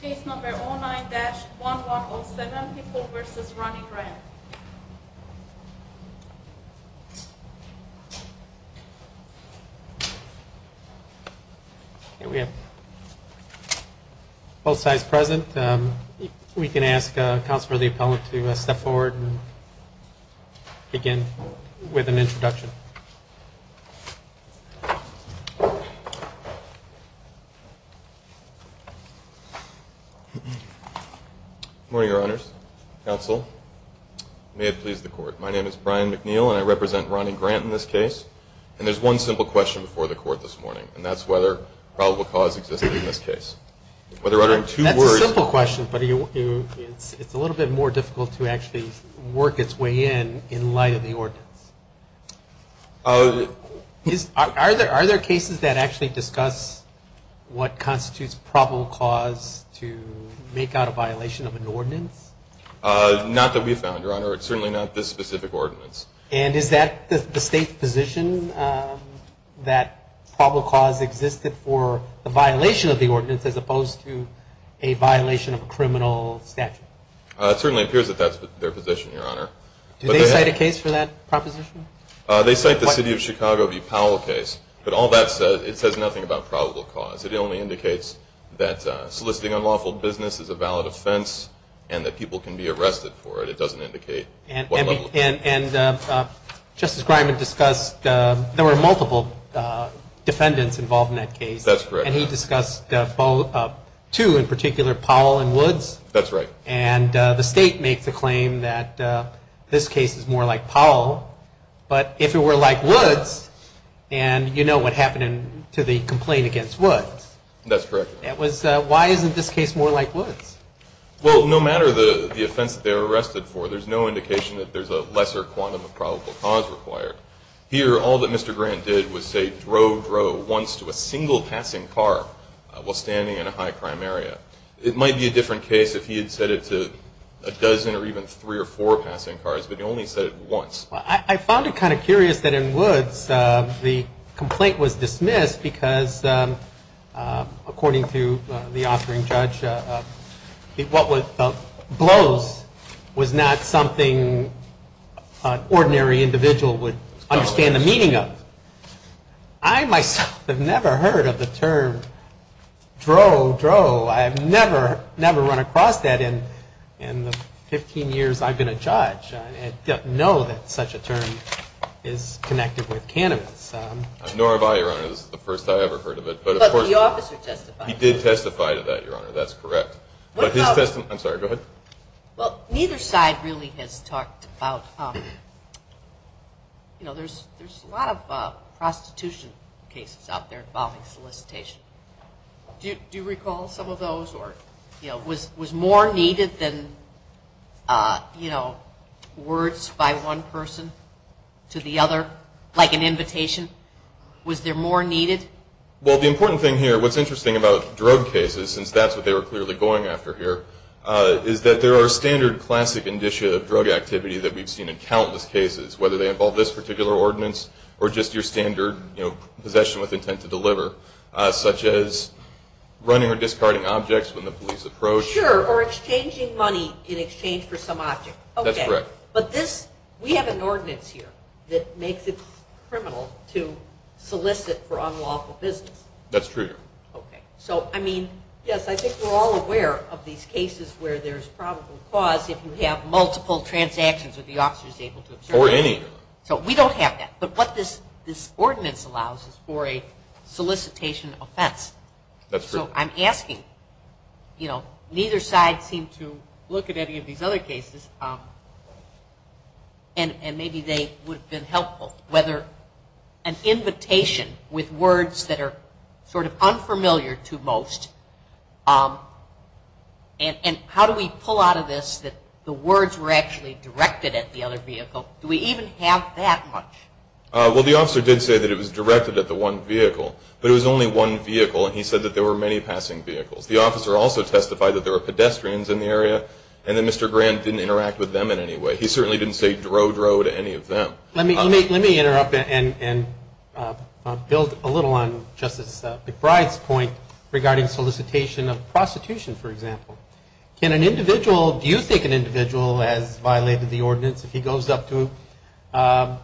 Page number 09-1107, People v. Ronnie Grant We have both sides present. I think we can ask Counselor Leopold to step forward and begin with an introduction. Good morning, Your Honors. Counsel, may it please the Court. My name is Brian McNeil, and I represent Ronnie Grant in this case. And there's one simple question before the Court this morning, and that's whether probable cause existed in this case. That's a simple question, but it's a little bit more difficult to actually work its way in, in light of the ordinance. Are there cases that actually discuss what constitutes probable cause to make out a violation of an ordinance? Not that we've found, Your Honor. It's certainly not this specific ordinance. And is that the State's position that probable cause existed for the violation of the ordinance as opposed to a violation of a criminal statute? It certainly appears that that's their position, Your Honor. Do they cite a case for that proposition? They cite the City of Chicago v. Powell case, but all that says, it says nothing about probable cause. It only indicates that soliciting unlawful business is a valid offense and that people can be arrested for it. It doesn't indicate what level of crime. And Justice Griman discussed, there were multiple defendants involved in that case. That's correct. And he discussed two in particular, Powell and Woods. That's right. And the State makes the claim that this case is more like Powell, but if it were like Woods, and you know what happened to the complaint against Woods. That's correct. Why isn't this case more like Woods? Well, no matter the offense that they were arrested for, there's no indication that there's a lesser quantum of probable cause required. Here, all that Mr. Grant did was say, drove once to a single passing car while standing in a high crime area. It might be a different case if he had said it to a dozen or even three or four passing cars, but he only said it once. I found it kind of curious that in Woods, the complaint was dismissed because according to the offering judge, what was blows was not something an ordinary individual would understand the meaning of. I myself have never heard of the term drove, drove. I have never, never run across that in the 15 years I've been a judge. I don't know that such a term is connected with cannabis. Nor have I, Your Honor. This is the first I've ever heard of it. But the officer testified. He did testify to that, Your Honor. That's correct. I'm sorry. Go ahead. Well, neither side really has talked about, you know, there's a lot of prostitution cases out there involving solicitation. Do you recall some of those? Or, you know, was more needed than, you know, words by one person to the other, like an invitation? Was there more needed? Well, the important thing here, what's interesting about drug cases, since that's what they were clearly going after here, is that there are standard classic indicia of drug activity that we've seen in countless cases, whether they involve this particular ordinance or just your standard, you know, possession with intent to deliver, such as running or discarding objects when the police approach. Sure. Or exchanging money in exchange for some object. That's correct. Okay. But this, we have an ordinance here that makes it criminal to solicit for unlawful business. That's true, Your Honor. Okay. So, I mean, yes, I think we're all aware of these cases where there's probable cause if you have multiple transactions that the officer is able to observe. Or any. So we don't have that. But what this ordinance allows is for a solicitation offense. That's correct. So I'm asking, you know, neither side seemed to look at any of these other cases, and maybe they would have been helpful, whether an invitation with words that are sort of unfamiliar to most, and how do we pull out of this that the words were actually directed at the other vehicle? Do we even have that much? Well, the officer did say that it was directed at the one vehicle. But it was only one vehicle, and he said that there were many passing vehicles. The officer also testified that there were pedestrians in the area, and that Mr. Grant didn't interact with them in any way. He certainly didn't say, dro, dro, to any of them. Let me interrupt and build a little on Justice McBride's point regarding solicitation of prostitution, for example. Can an individual, do you think an individual has violated the ordinance if he goes up to a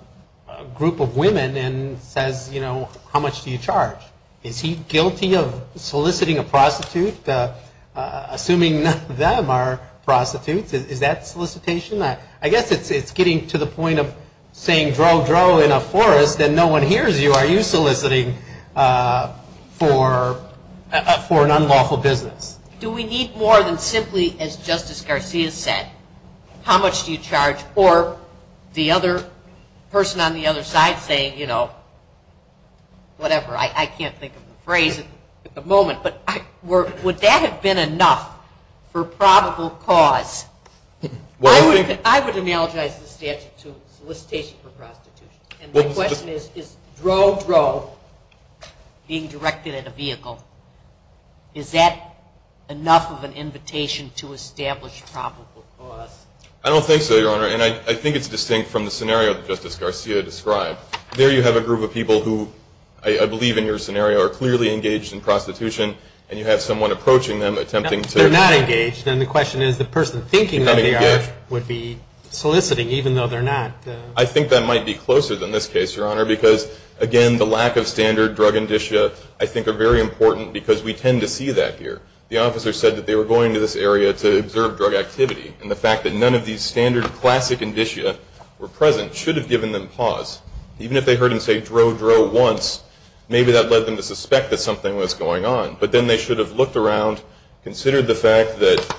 group of women and says, you know, how much do you charge? Is he guilty of soliciting a prostitute, assuming none of them are prostitutes? Is that solicitation? I guess it's getting to the point of saying, dro, dro, in a forest, and no one hears you. Are you soliciting for an unlawful business? Do we need more than simply, as Justice Garcia said, how much do you charge? Or the other person on the other side saying, you know, whatever. I can't think of a phrase at the moment. But would that have been enough for probable cause? I would analogize the statute to solicitation for prostitution. And my question is, is dro, dro, being directed at a vehicle, is that enough of an invitation to establish probable cause? I don't think so, Your Honor. And I think it's distinct from the scenario that Justice Garcia described. There you have a group of people who I believe in your scenario are clearly engaged in prostitution. And you have someone approaching them, attempting to. They're not engaged. And the question is, the person thinking they are would be soliciting, even though they're not. I think that might be closer than this case, Your Honor, because, again, the lack of standard drug indicia I think are very important because we tend to see that here. The officer said that they were going to this area to observe drug activity. And the fact that none of these standard classic indicia were present should have given them pause. Even if they heard him say, dro, dro, once, maybe that led them to suspect that something was going on. But then they should have looked around, considered the fact that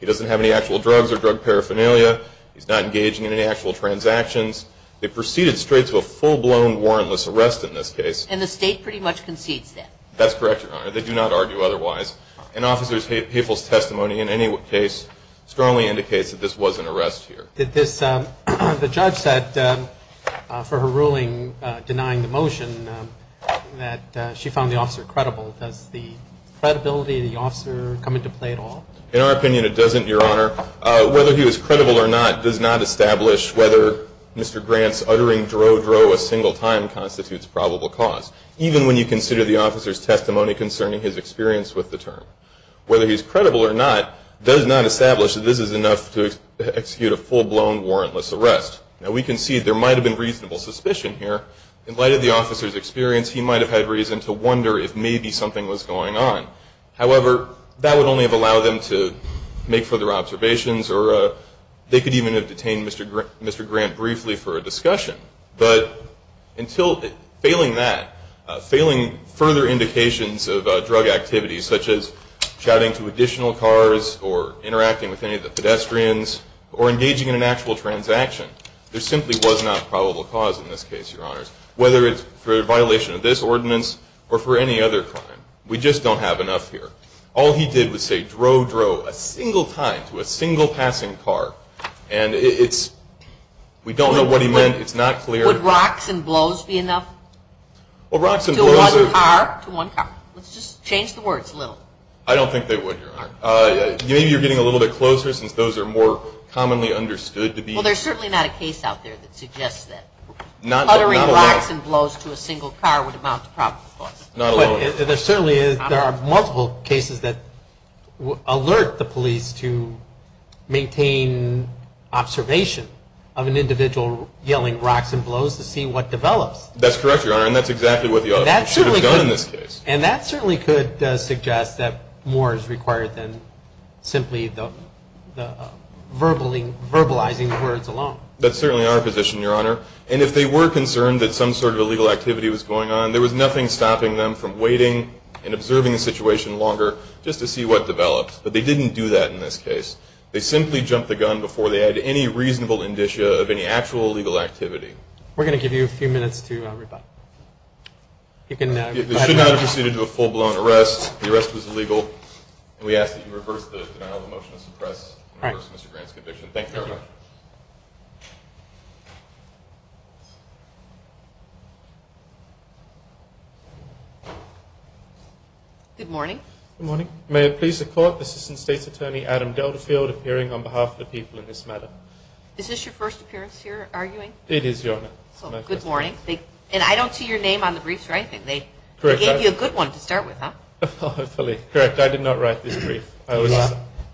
he doesn't have any actual drugs or drug paraphernalia. He's not engaging in any actual transactions. They proceeded straight to a full-blown warrantless arrest in this case. And the state pretty much concedes that. That's correct, Your Honor. They do not argue otherwise. An officer's hateful testimony in any case strongly indicates that this was an arrest here. The judge said for her ruling denying the motion that she found the officer credible. Does the credibility of the officer come into play at all? In our opinion, it doesn't, Your Honor. Whether he was credible or not does not establish whether Mr. Grant's uttering, dro, dro, a single time constitutes probable cause, even when you consider the officer's testimony concerning his experience with the term. Whether he's credible or not does not establish that this is enough to execute a full-blown warrantless arrest. Now, we concede there might have been reasonable suspicion here. In light of the officer's experience, he might have had reason to wonder if maybe something was going on. However, that would only have allowed them to make further observations or they could even have detained Mr. Grant briefly for a discussion. But until failing that, failing further indications of drug activity, such as shouting to additional cars or interacting with any of the pedestrians or engaging in an actual transaction, there simply was not probable cause in this case, Your Honors, whether it's for a violation of this ordinance or for any other crime. We just don't have enough here. All he did was say, dro, dro, a single time to a single passing car. And it's, we don't know what he meant. It's not clear. Would rocks and blows be enough to one car? To one car. Let's just change the words a little. I don't think they would, Your Honor. Maybe you're getting a little bit closer since those are more commonly understood to be. Well, there's certainly not a case out there that suggests that. Uttering rocks and blows to a single car would amount to probable cause. Not alone. There certainly is. There are multiple cases that alert the police to maintain observation of an individual yelling rocks and blows to see what develops. That's correct, Your Honor, and that's exactly what the author should have done in this case. And that certainly could suggest that more is required than simply the verbalizing words alone. That's certainly our position, Your Honor. And if they were concerned that some sort of illegal activity was going on, there was nothing stopping them from waiting and observing the situation longer just to see what developed. But they didn't do that in this case. They simply jumped the gun before they had any reasonable indicia of any actual illegal activity. We're going to give you a few minutes to reply. You should not have proceeded to a full-blown arrest. The arrest was illegal. And we ask that you reverse the denial of motion to suppress and reverse Mr. Grant's conviction. Thank you very much. Your Honor. Good morning. Good morning. May it please the Court, Assistant State's Attorney Adam Deltafield appearing on behalf of the people in this matter. Is this your first appearance here arguing? It is, Your Honor. So good morning. And I don't see your name on the briefs or anything. They gave you a good one to start with, huh? Hopefully. Correct. I did not write this brief. Do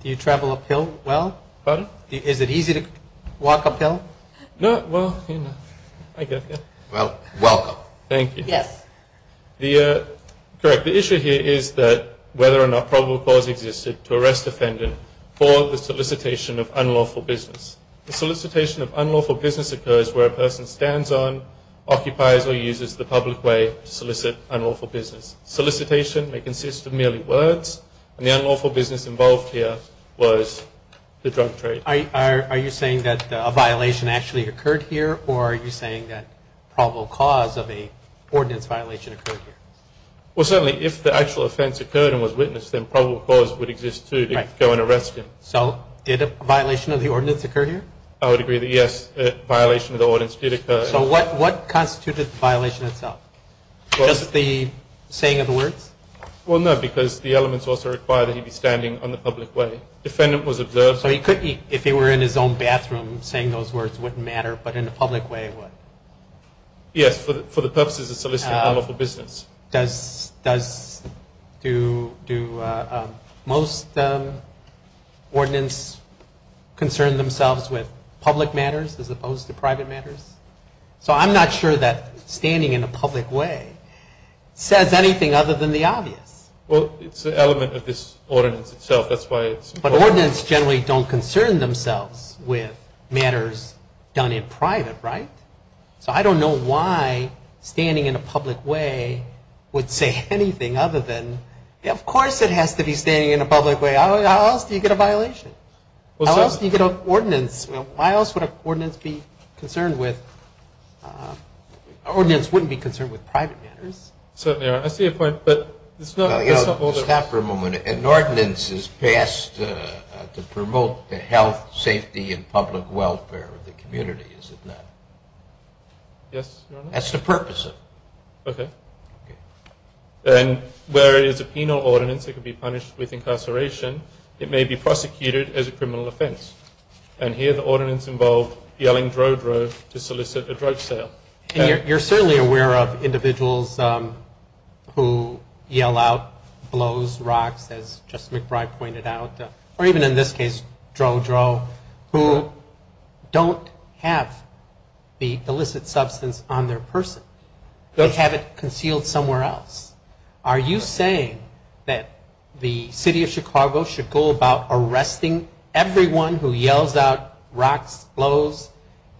you travel uphill well? Pardon? Is it easy to walk uphill? No. Well, you know. I guess, yeah. Well, welcome. Thank you. Yes. Correct. The issue here is that whether or not probable cause existed to arrest defendant for the solicitation of unlawful business. The solicitation of unlawful business occurs where a person stands on, occupies, or uses the public way to solicit unlawful business. Solicitation may consist of merely words. And the unlawful business involved here was the drug trade. Are you saying that a violation actually occurred here, or are you saying that probable cause of an ordinance violation occurred here? Well, certainly, if the actual offense occurred and was witnessed, then probable cause would exist to go and arrest him. So did a violation of the ordinance occur here? I would agree that, yes, a violation of the ordinance did occur. So what constituted the violation itself? Just the saying of the words? Well, no, because the elements also require that he be standing on the public way. Defendant was observed. So he could be, if he were in his own bathroom, saying those words wouldn't matter, but in a public way it would? Yes, for the purposes of soliciting unlawful business. Does, do most ordinance concern themselves with public matters as opposed to private matters? So I'm not sure that standing in a public way says anything other than the obvious. Well, it's an element of this ordinance itself. That's why it's important. But ordinance generally don't concern themselves with matters done in private, right? So I don't know why standing in a public way would say anything other than, of course it has to be standing in a public way. How else do you get a violation? How else do you get an ordinance? Why else would an ordinance be concerned with, ordinance wouldn't be concerned with private matters. Certainly, I see your point, but it's not. Stop for a moment. An ordinance is passed to promote the health, safety, and public welfare of the community, is it not? Yes, Your Honor. That's the purpose of it. Okay. And where it is a penal ordinance, it could be punished with incarceration. It may be prosecuted as a criminal offense. And here the ordinance involved yelling, drow, drow to solicit a drug sale. You're certainly aware of individuals who yell out, blows rocks, as Justice McBride pointed out, or even in this case, drow, drow, who don't have the illicit substance on their person. They have it concealed somewhere else. Are you saying that the City of Chicago should go about arresting everyone who yells out rocks, blows,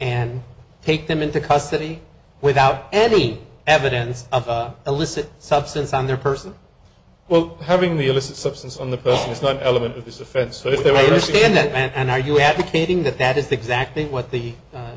and take them into custody without any evidence of an illicit substance on their person? Well, having the illicit substance on the person is not an element of this offense. I understand that. And are you advocating that that is exactly what the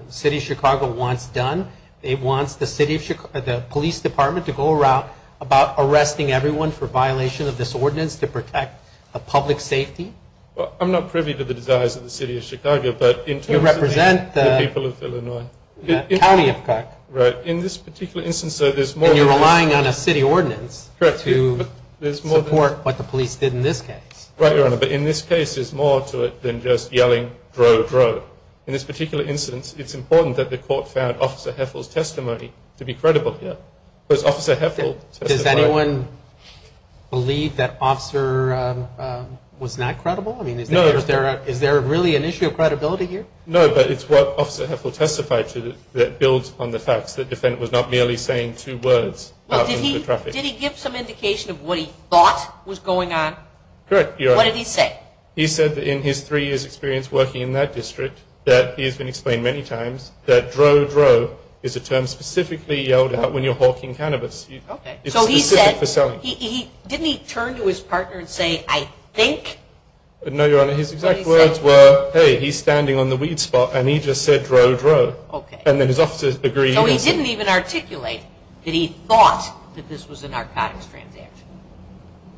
City of Chicago wants done? It wants the police department to go around about arresting everyone for violation of this ordinance to protect the public safety? Well, I'm not privy to the desires of the City of Chicago, but in terms of the people of Illinois. You represent the county of Cook. Right. In this particular instance, though, there's more than that. And you're relying on a city ordinance to support what the police did in this case. Right, Your Honor. But in this case, there's more to it than just yelling, drow, drow. In this particular instance, it's important that the court found Officer Heffel's testimony to be credible here. Because Officer Heffel testified. Does anyone believe that Officer was not credible? No. Is there really an issue of credibility here? No, but it's what Officer Heffel testified to that builds on the fact that the defendant was not merely saying two words. Did he give some indication of what he thought was going on? Correct, Your Honor. What did he say? He said that in his three years' experience working in that district, that he has been explained many times, that drow, drow is a term specifically yelled out when you're hawking cannabis. Okay. It's specific for selling. So he said, didn't he turn to his partner and say, I think? No, Your Honor. His exact words were, hey, he's standing on the weed spot, and he just said drow, drow. Okay. And then his officers agreed. So he didn't even articulate that he thought that this was a narcotics transaction?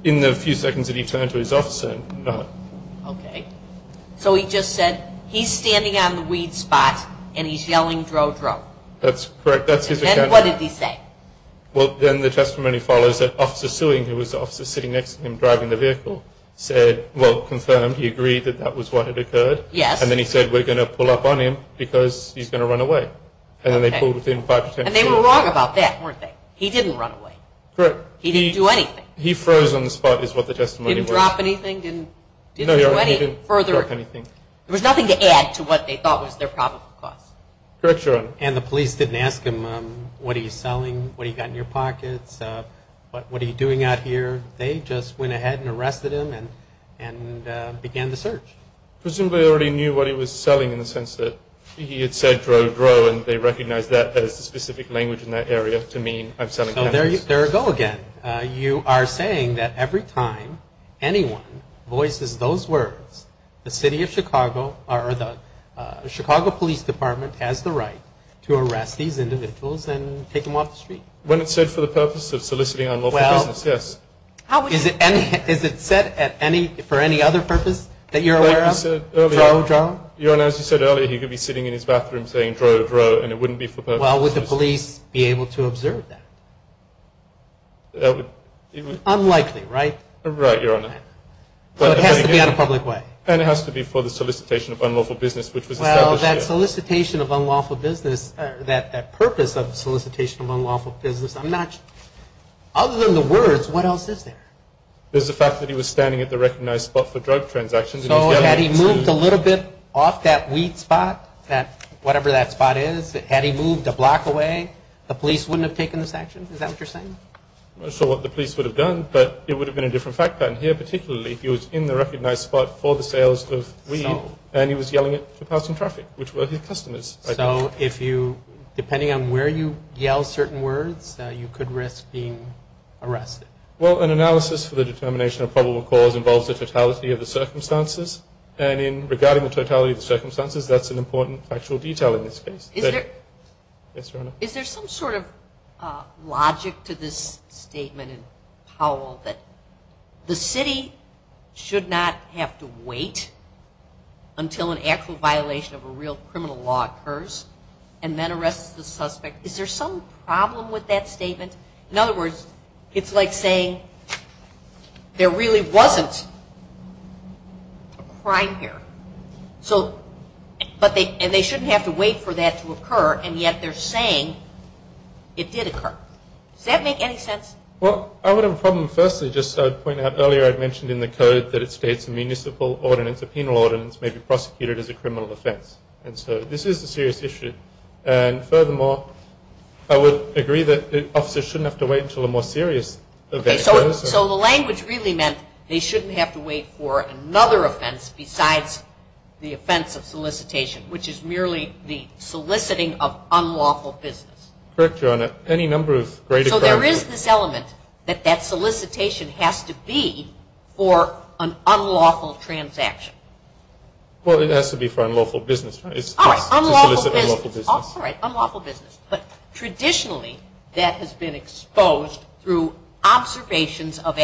In the few seconds that he turned to his officer, no. Okay. So he just said, he's standing on the weed spot, and he's yelling drow, drow. That's correct. And then what did he say? Well, then the testimony follows that Officer Sewing, who was the officer sitting next to him driving the vehicle, said, well, confirmed, he agreed that that was what had occurred. Yes. And then he said, we're going to pull up on him because he's going to run away. Okay. And then they pulled within five to ten feet. And they were wrong about that, weren't they? He didn't run away. Correct. He didn't do anything. He froze on the spot is what the testimony was. Didn't drop anything? No, Your Honor, he didn't drop anything. There was nothing to add to what they thought was their probable cause. Correct, Your Honor. And the police didn't ask him, what are you selling? What do you got in your pockets? What are you doing out here? They just went ahead and arrested him and began the search. Presumably they already knew what he was selling in the sense that he had said drow, drow, and they recognized that as the specific language in that area to mean I'm selling cannabis. So there you go again. You are saying that every time anyone voices those words, the Chicago Police Department has the right to arrest these individuals and take them off the street. When it's said for the purpose of soliciting unlawful business, yes. Is it said for any other purpose that you're aware of? Like you said earlier. Drow, drow? Your Honor, as you said earlier, he could be sitting in his bathroom saying drow, drow, and it wouldn't be for purpose. Well, would the police be able to observe that? Unlikely, right? Right, Your Honor. But it has to be on a public way. And it has to be for the solicitation of unlawful business, which was established here. Well, that solicitation of unlawful business, that purpose of solicitation of unlawful business, other than the words, what else is there? There's the fact that he was standing at the recognized spot for drug transactions. So had he moved a little bit off that weed spot, whatever that spot is, had he moved a block away, the police wouldn't have taken this action? Is that what you're saying? I'm not sure what the police would have done, but it would have been a different fact pattern here, particularly if he was in the recognized spot for the sales of weed, and he was yelling it to passing traffic, which were his customers. So if you, depending on where you yell certain words, you could risk being arrested? Well, an analysis for the determination of probable cause involves the totality of the circumstances. And regarding the totality of the circumstances, that's an important factual detail in this case. Yes, Your Honor. Is there some sort of logic to this statement in Powell that the city should not have to wait until an actual violation of a real criminal law occurs and then arrests the suspect? Is there some problem with that statement? In other words, it's like saying there really wasn't a crime here. And they shouldn't have to wait for that to occur, and yet they're saying it did occur. Does that make any sense? Well, I would have a problem. Firstly, just to point out, earlier I'd mentioned in the code that it states a municipal ordinance, a penal ordinance, may be prosecuted as a criminal offense. And so this is a serious issue. And furthermore, I would agree that officers shouldn't have to wait until a more serious event occurs. So the language really meant they shouldn't have to wait for another offense besides the offense of solicitation, which is merely the soliciting of unlawful business. Correct, Your Honor. Any number of greater crimes. So there is this element that that solicitation has to be for an unlawful transaction. Well, it has to be for unlawful business. All right, unlawful business. All right, unlawful business. But traditionally, that has been exposed through observations of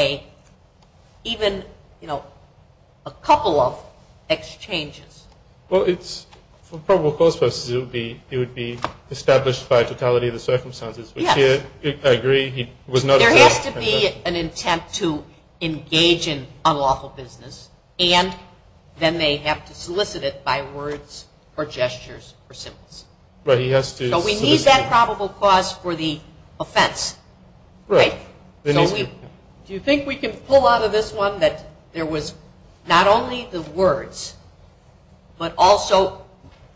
even a couple of exchanges. Well, for probable cause purposes, it would be established by totality of the circumstances. Yes. I agree. There has to be an intent to engage in unlawful business, and then they have to solicit it by words or gestures or symbols. Right, he has to solicit. So we need that probable cause for the offense. Right. Do you think we can pull out of this one that there was not only the words, but also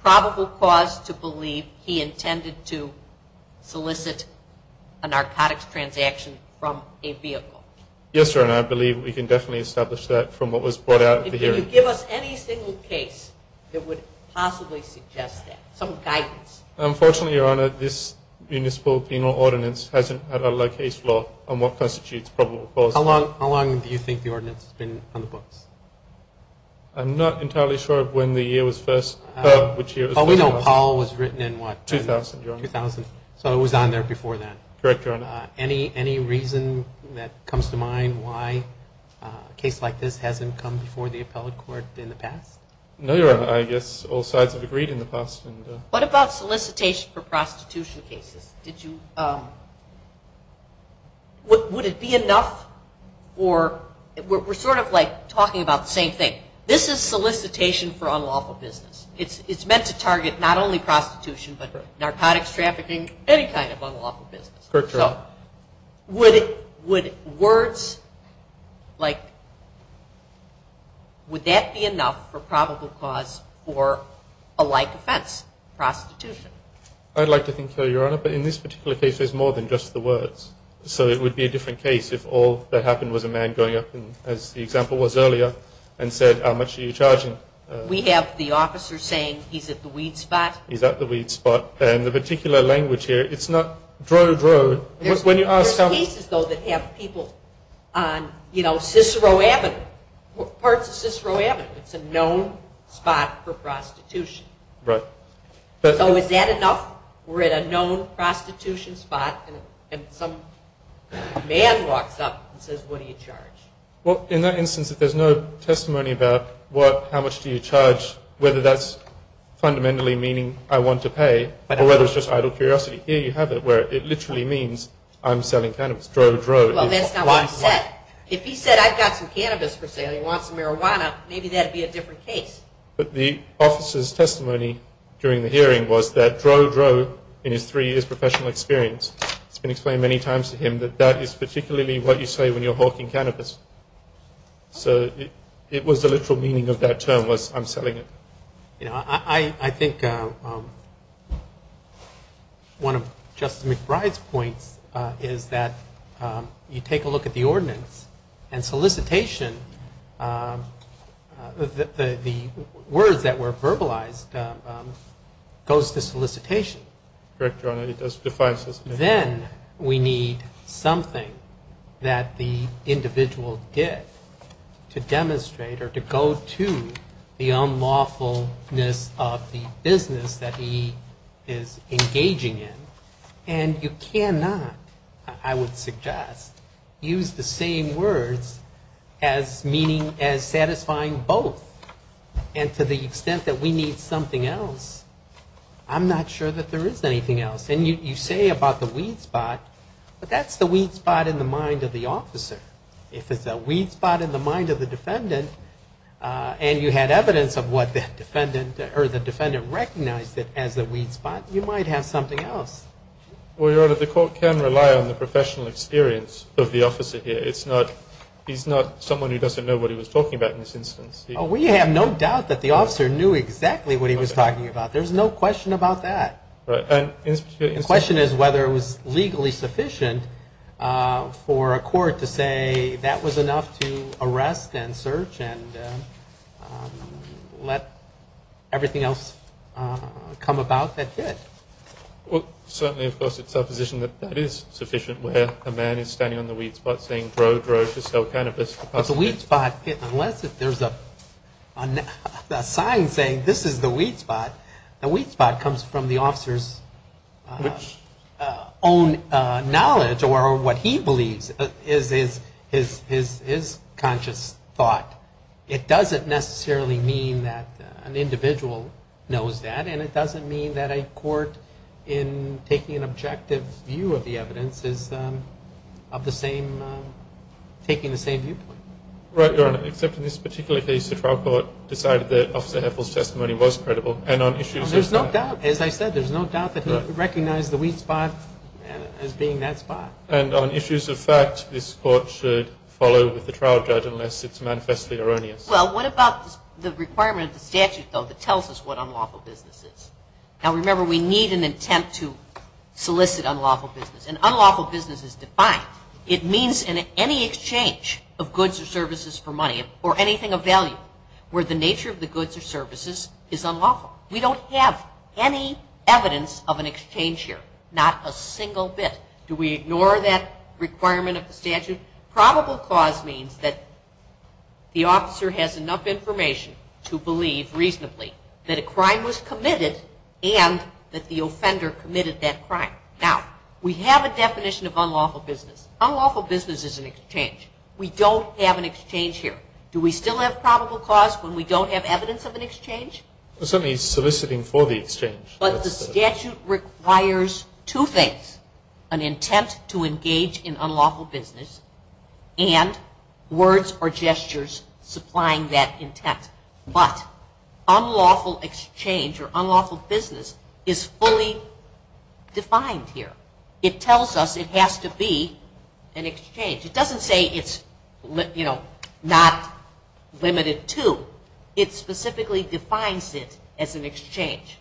probable cause to believe he intended to solicit a narcotics transaction from a vehicle? Yes, Your Honor. I believe we can definitely establish that from what was brought out of the hearing. Can you give us any single case that would possibly suggest that, some guidance? Unfortunately, Your Honor, this municipal penal ordinance hasn't had a case law on what constitutes probable cause. How long do you think the ordinance has been on the books? I'm not entirely sure of when the year was first heard, which year. Oh, we know Paul was written in what? 2000, Your Honor. 2000. So it was on there before that. Correct, Your Honor. Any reason that comes to mind why a case like this hasn't come before the appellate court in the past? No, Your Honor. I guess all sides have agreed in the past. What about solicitation for prostitution cases? Would it be enough? We're sort of like talking about the same thing. This is solicitation for unlawful business. It's meant to target not only prostitution, but narcotics trafficking, any kind of unlawful business. Correct, Your Honor. So would words like, would that be enough for probable cause for a like offense, prostitution? I'd like to think so, Your Honor, but in this particular case, there's more than just the words. So it would be a different case if all that happened was a man going up, as the example was earlier, and said, how much are you charging? We have the officer saying, he's at the weed spot. He's at the weed spot. In the particular language here, it's not dro-dro. There's cases, though, that have people on Cicero Avenue, parts of Cicero Avenue. It's a known spot for prostitution. Right. So is that enough? We're at a known prostitution spot, and some man walks up and says, what do you charge? Well, in that instance, if there's no testimony about how much do you charge, whether that's fundamentally meaning I want to pay, or whether it's just idle curiosity, here you have it, where it literally means I'm selling cannabis, dro-dro. Well, that's not what he said. If he said I've got some cannabis for sale and he wants some marijuana, maybe that would be a different case. But the officer's testimony during the hearing was that dro-dro, in his three years' professional experience, it's been explained many times to him that that is particularly what you say when you're hawking cannabis. So it was the literal meaning of that term was I'm selling it. You know, I think one of Justice McBride's points is that you take a look at the ordinance and solicitation, the words that were verbalized, goes to solicitation. Correct, Your Honor. It does define solicitation. Then we need something that the individual did to demonstrate or to go to the unlawfulness of the business that he is engaging in. And you cannot, I would suggest, use the same words as meaning as satisfying both. And to the extent that we need something else, I'm not sure that there is anything else. And you say about the weed spot, but that's the weed spot in the mind of the officer. If it's a weed spot in the mind of the defendant, and you had evidence of what the defendant recognized as a weed spot, you might have something else. Well, Your Honor, the court can rely on the professional experience of the officer here. He's not someone who doesn't know what he was talking about in this instance. We have no doubt that the officer knew exactly what he was talking about. There's no question about that. Right. The question is whether it was legally sufficient for a court to say that was enough to arrest and search and let everything else come about that did. Well, certainly, of course, it's our position that that is sufficient, where a man is standing on the weed spot saying, But the weed spot, unless there's a sign saying this is the weed spot, the weed spot comes from the officer's own knowledge or what he believes is his conscious thought. It doesn't necessarily mean that an individual knows that, and it doesn't mean that a court, in taking an objective view of the evidence, is taking the same viewpoint. Right, Your Honor, except in this particular case, the trial court decided that Officer Heffel's testimony was credible. There's no doubt. As I said, there's no doubt that he recognized the weed spot as being that spot. And on issues of fact, this court should follow with the trial judge unless it's manifestly erroneous. Well, what about the requirement of the statute, though, that tells us what unlawful business is? Now, remember, we need an attempt to solicit unlawful business. And unlawful business is defined. It means in any exchange of goods or services for money or anything of value where the nature of the goods or services is unlawful. We don't have any evidence of an exchange here, not a single bit. Do we ignore that requirement of the statute? Probable cause means that the officer has enough information to believe reasonably that a crime was committed and that the offender committed that crime. Now, we have a definition of unlawful business. Unlawful business is an exchange. We don't have an exchange here. Do we still have probable cause when we don't have evidence of an exchange? Certainly soliciting for the exchange. But the statute requires two things, an intent to engage in unlawful business and words or gestures supplying that intent. But unlawful exchange or unlawful business is fully defined here. It tells us it has to be an exchange. It doesn't say it's, you know, not limited to. It specifically defines it as an exchange.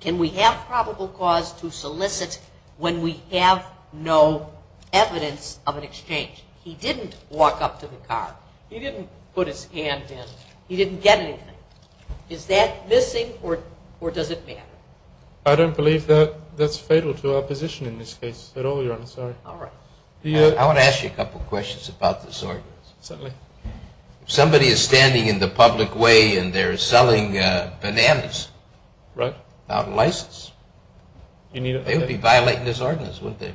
Can we have probable cause to solicit when we have no evidence of an exchange? He didn't walk up to the car. He didn't put his hand in. He didn't get anything. Is that missing or does it matter? I don't believe that's fatal to our position in this case at all, Your Honor. All right. I want to ask you a couple questions about this ordinance. Certainly. If somebody is standing in the public way and they're selling bananas without a license, they would be violating this ordinance, wouldn't they?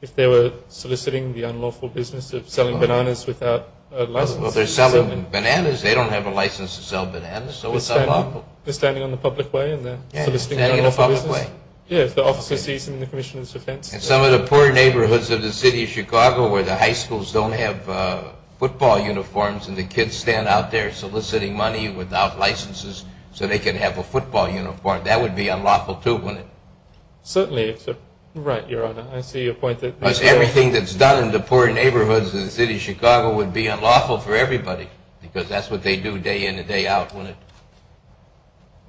If they were soliciting the unlawful business of selling bananas without a license. Well, they're selling bananas. They don't have a license to sell bananas, so it's unlawful. They're standing in the public way and they're soliciting the unlawful business? Yes, standing in the public way. Yes, if the officer sees them in the commissioner's defense. And some of the poor neighborhoods of the city of Chicago where the high schools don't have football uniforms and the kids stand out there soliciting money without licenses so they can have a football uniform, that would be unlawful too, wouldn't it? Certainly. Right, Your Honor. I see your point. Because everything that's done in the poor neighborhoods of the city of Chicago would be unlawful for everybody because that's what they do day in and day out, wouldn't it?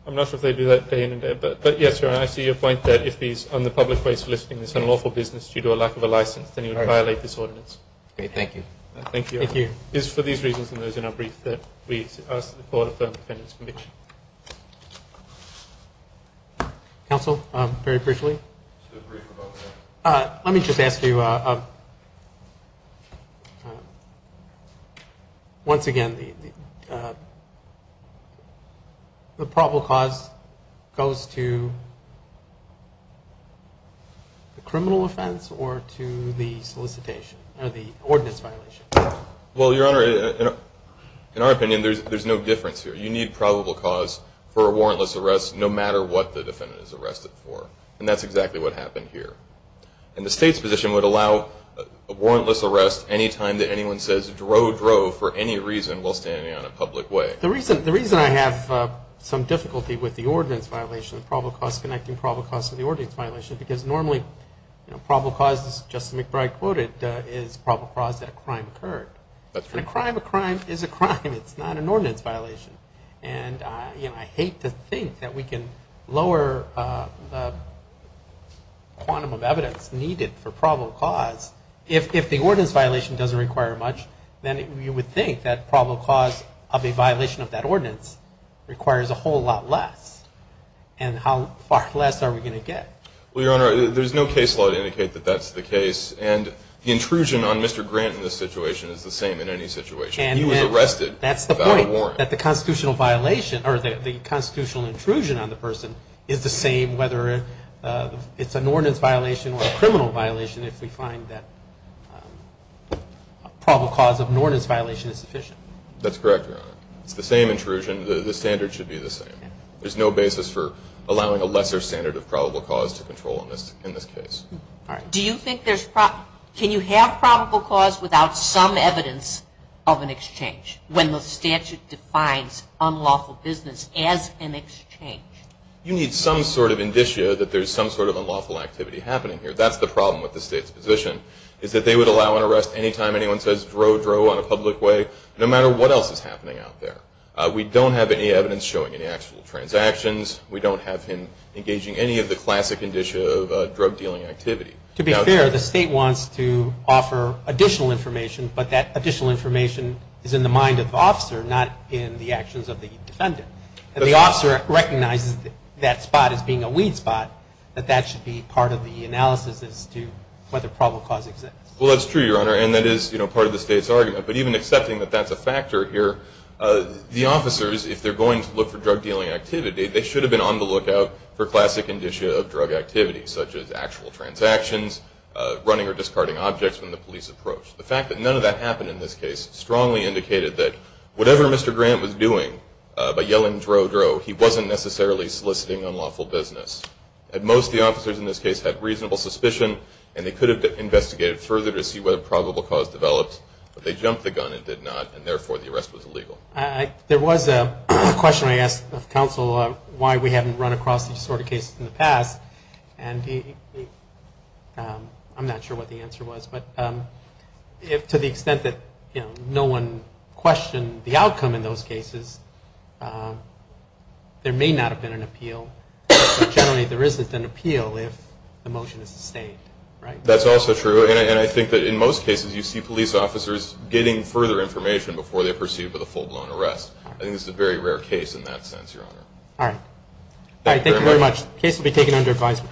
I'm not sure if they do that day in and day out. But, yes, Your Honor, I see your point that if he's on the public way soliciting this unlawful business due to a lack of a license, then he would violate this ordinance. Okay, thank you. Thank you, Your Honor. It is for these reasons and those in our brief that we ask that the Court affirm the defendant's conviction. Counsel, very briefly. Let me just ask you, once again, the probable cause goes to the criminal offense or to the solicitation or the ordinance violation? Well, Your Honor, in our opinion, there's no difference here. You need probable cause for a warrantless arrest no matter what the defendant is arrested for. And that's exactly what happened here. And the State's position would allow a warrantless arrest any time that anyone says, dro, dro, for any reason while standing on a public way. The reason I have some difficulty with the ordinance violation, the probable cause connecting probable cause to the ordinance violation, because normally probable cause, as Justice McBride quoted, is probable cause that a crime occurred. And a crime, a crime is a crime. It's not an ordinance violation. And, you know, I hate to think that we can lower the quantum of evidence needed for probable cause. If the ordinance violation doesn't require much, then you would think that probable cause of a violation of that ordinance requires a whole lot less. And how far less are we going to get? Well, Your Honor, there's no case law to indicate that that's the case. And the intrusion on Mr. Grant in this situation is the same in any situation. He was arrested without a warrant. That the constitutional violation, or the constitutional intrusion on the person, is the same whether it's an ordinance violation or a criminal violation if we find that probable cause of an ordinance violation is sufficient. That's correct, Your Honor. It's the same intrusion. The standard should be the same. There's no basis for allowing a lesser standard of probable cause to control in this case. Do you think there's – can you have probable cause without some evidence of an exchange? When the statute defines unlawful business as an exchange. You need some sort of indicia that there's some sort of unlawful activity happening here. That's the problem with the State's position, is that they would allow an arrest anytime anyone says, drow, drow, on a public way, no matter what else is happening out there. We don't have any evidence showing any actual transactions. We don't have him engaging any of the classic indicia of drug dealing activity. To be fair, the State wants to offer additional information, but that additional information is in the mind of the officer, not in the actions of the defendant. If the officer recognizes that spot as being a weed spot, that that should be part of the analysis as to whether probable cause exists. Well, that's true, Your Honor, and that is part of the State's argument. But even accepting that that's a factor here, the officers, if they're going to look for drug dealing activity, they should have been on the lookout for classic indicia of drug activity, such as actual transactions, running or discarding objects when the police approach. The fact that none of that happened in this case strongly indicated that whatever Mr. Grant was doing by yelling drow, drow, he wasn't necessarily soliciting unlawful business. At most, the officers in this case had reasonable suspicion, and they could have investigated further to see whether probable cause developed, but they jumped the gun and did not, and therefore the arrest was illegal. There was a question I asked of counsel why we haven't run across this sort of case in the past, and I'm not sure what the answer was, but to the extent that no one questioned the outcome in those cases, there may not have been an appeal, but generally there isn't an appeal if the motion is sustained. That's also true, and I think that in most cases you see police officers getting further information before they're pursued with a full-blown arrest. I think this is a very rare case in that sense, Your Honor. All right. Thank you very much. The case will be taken under advisement.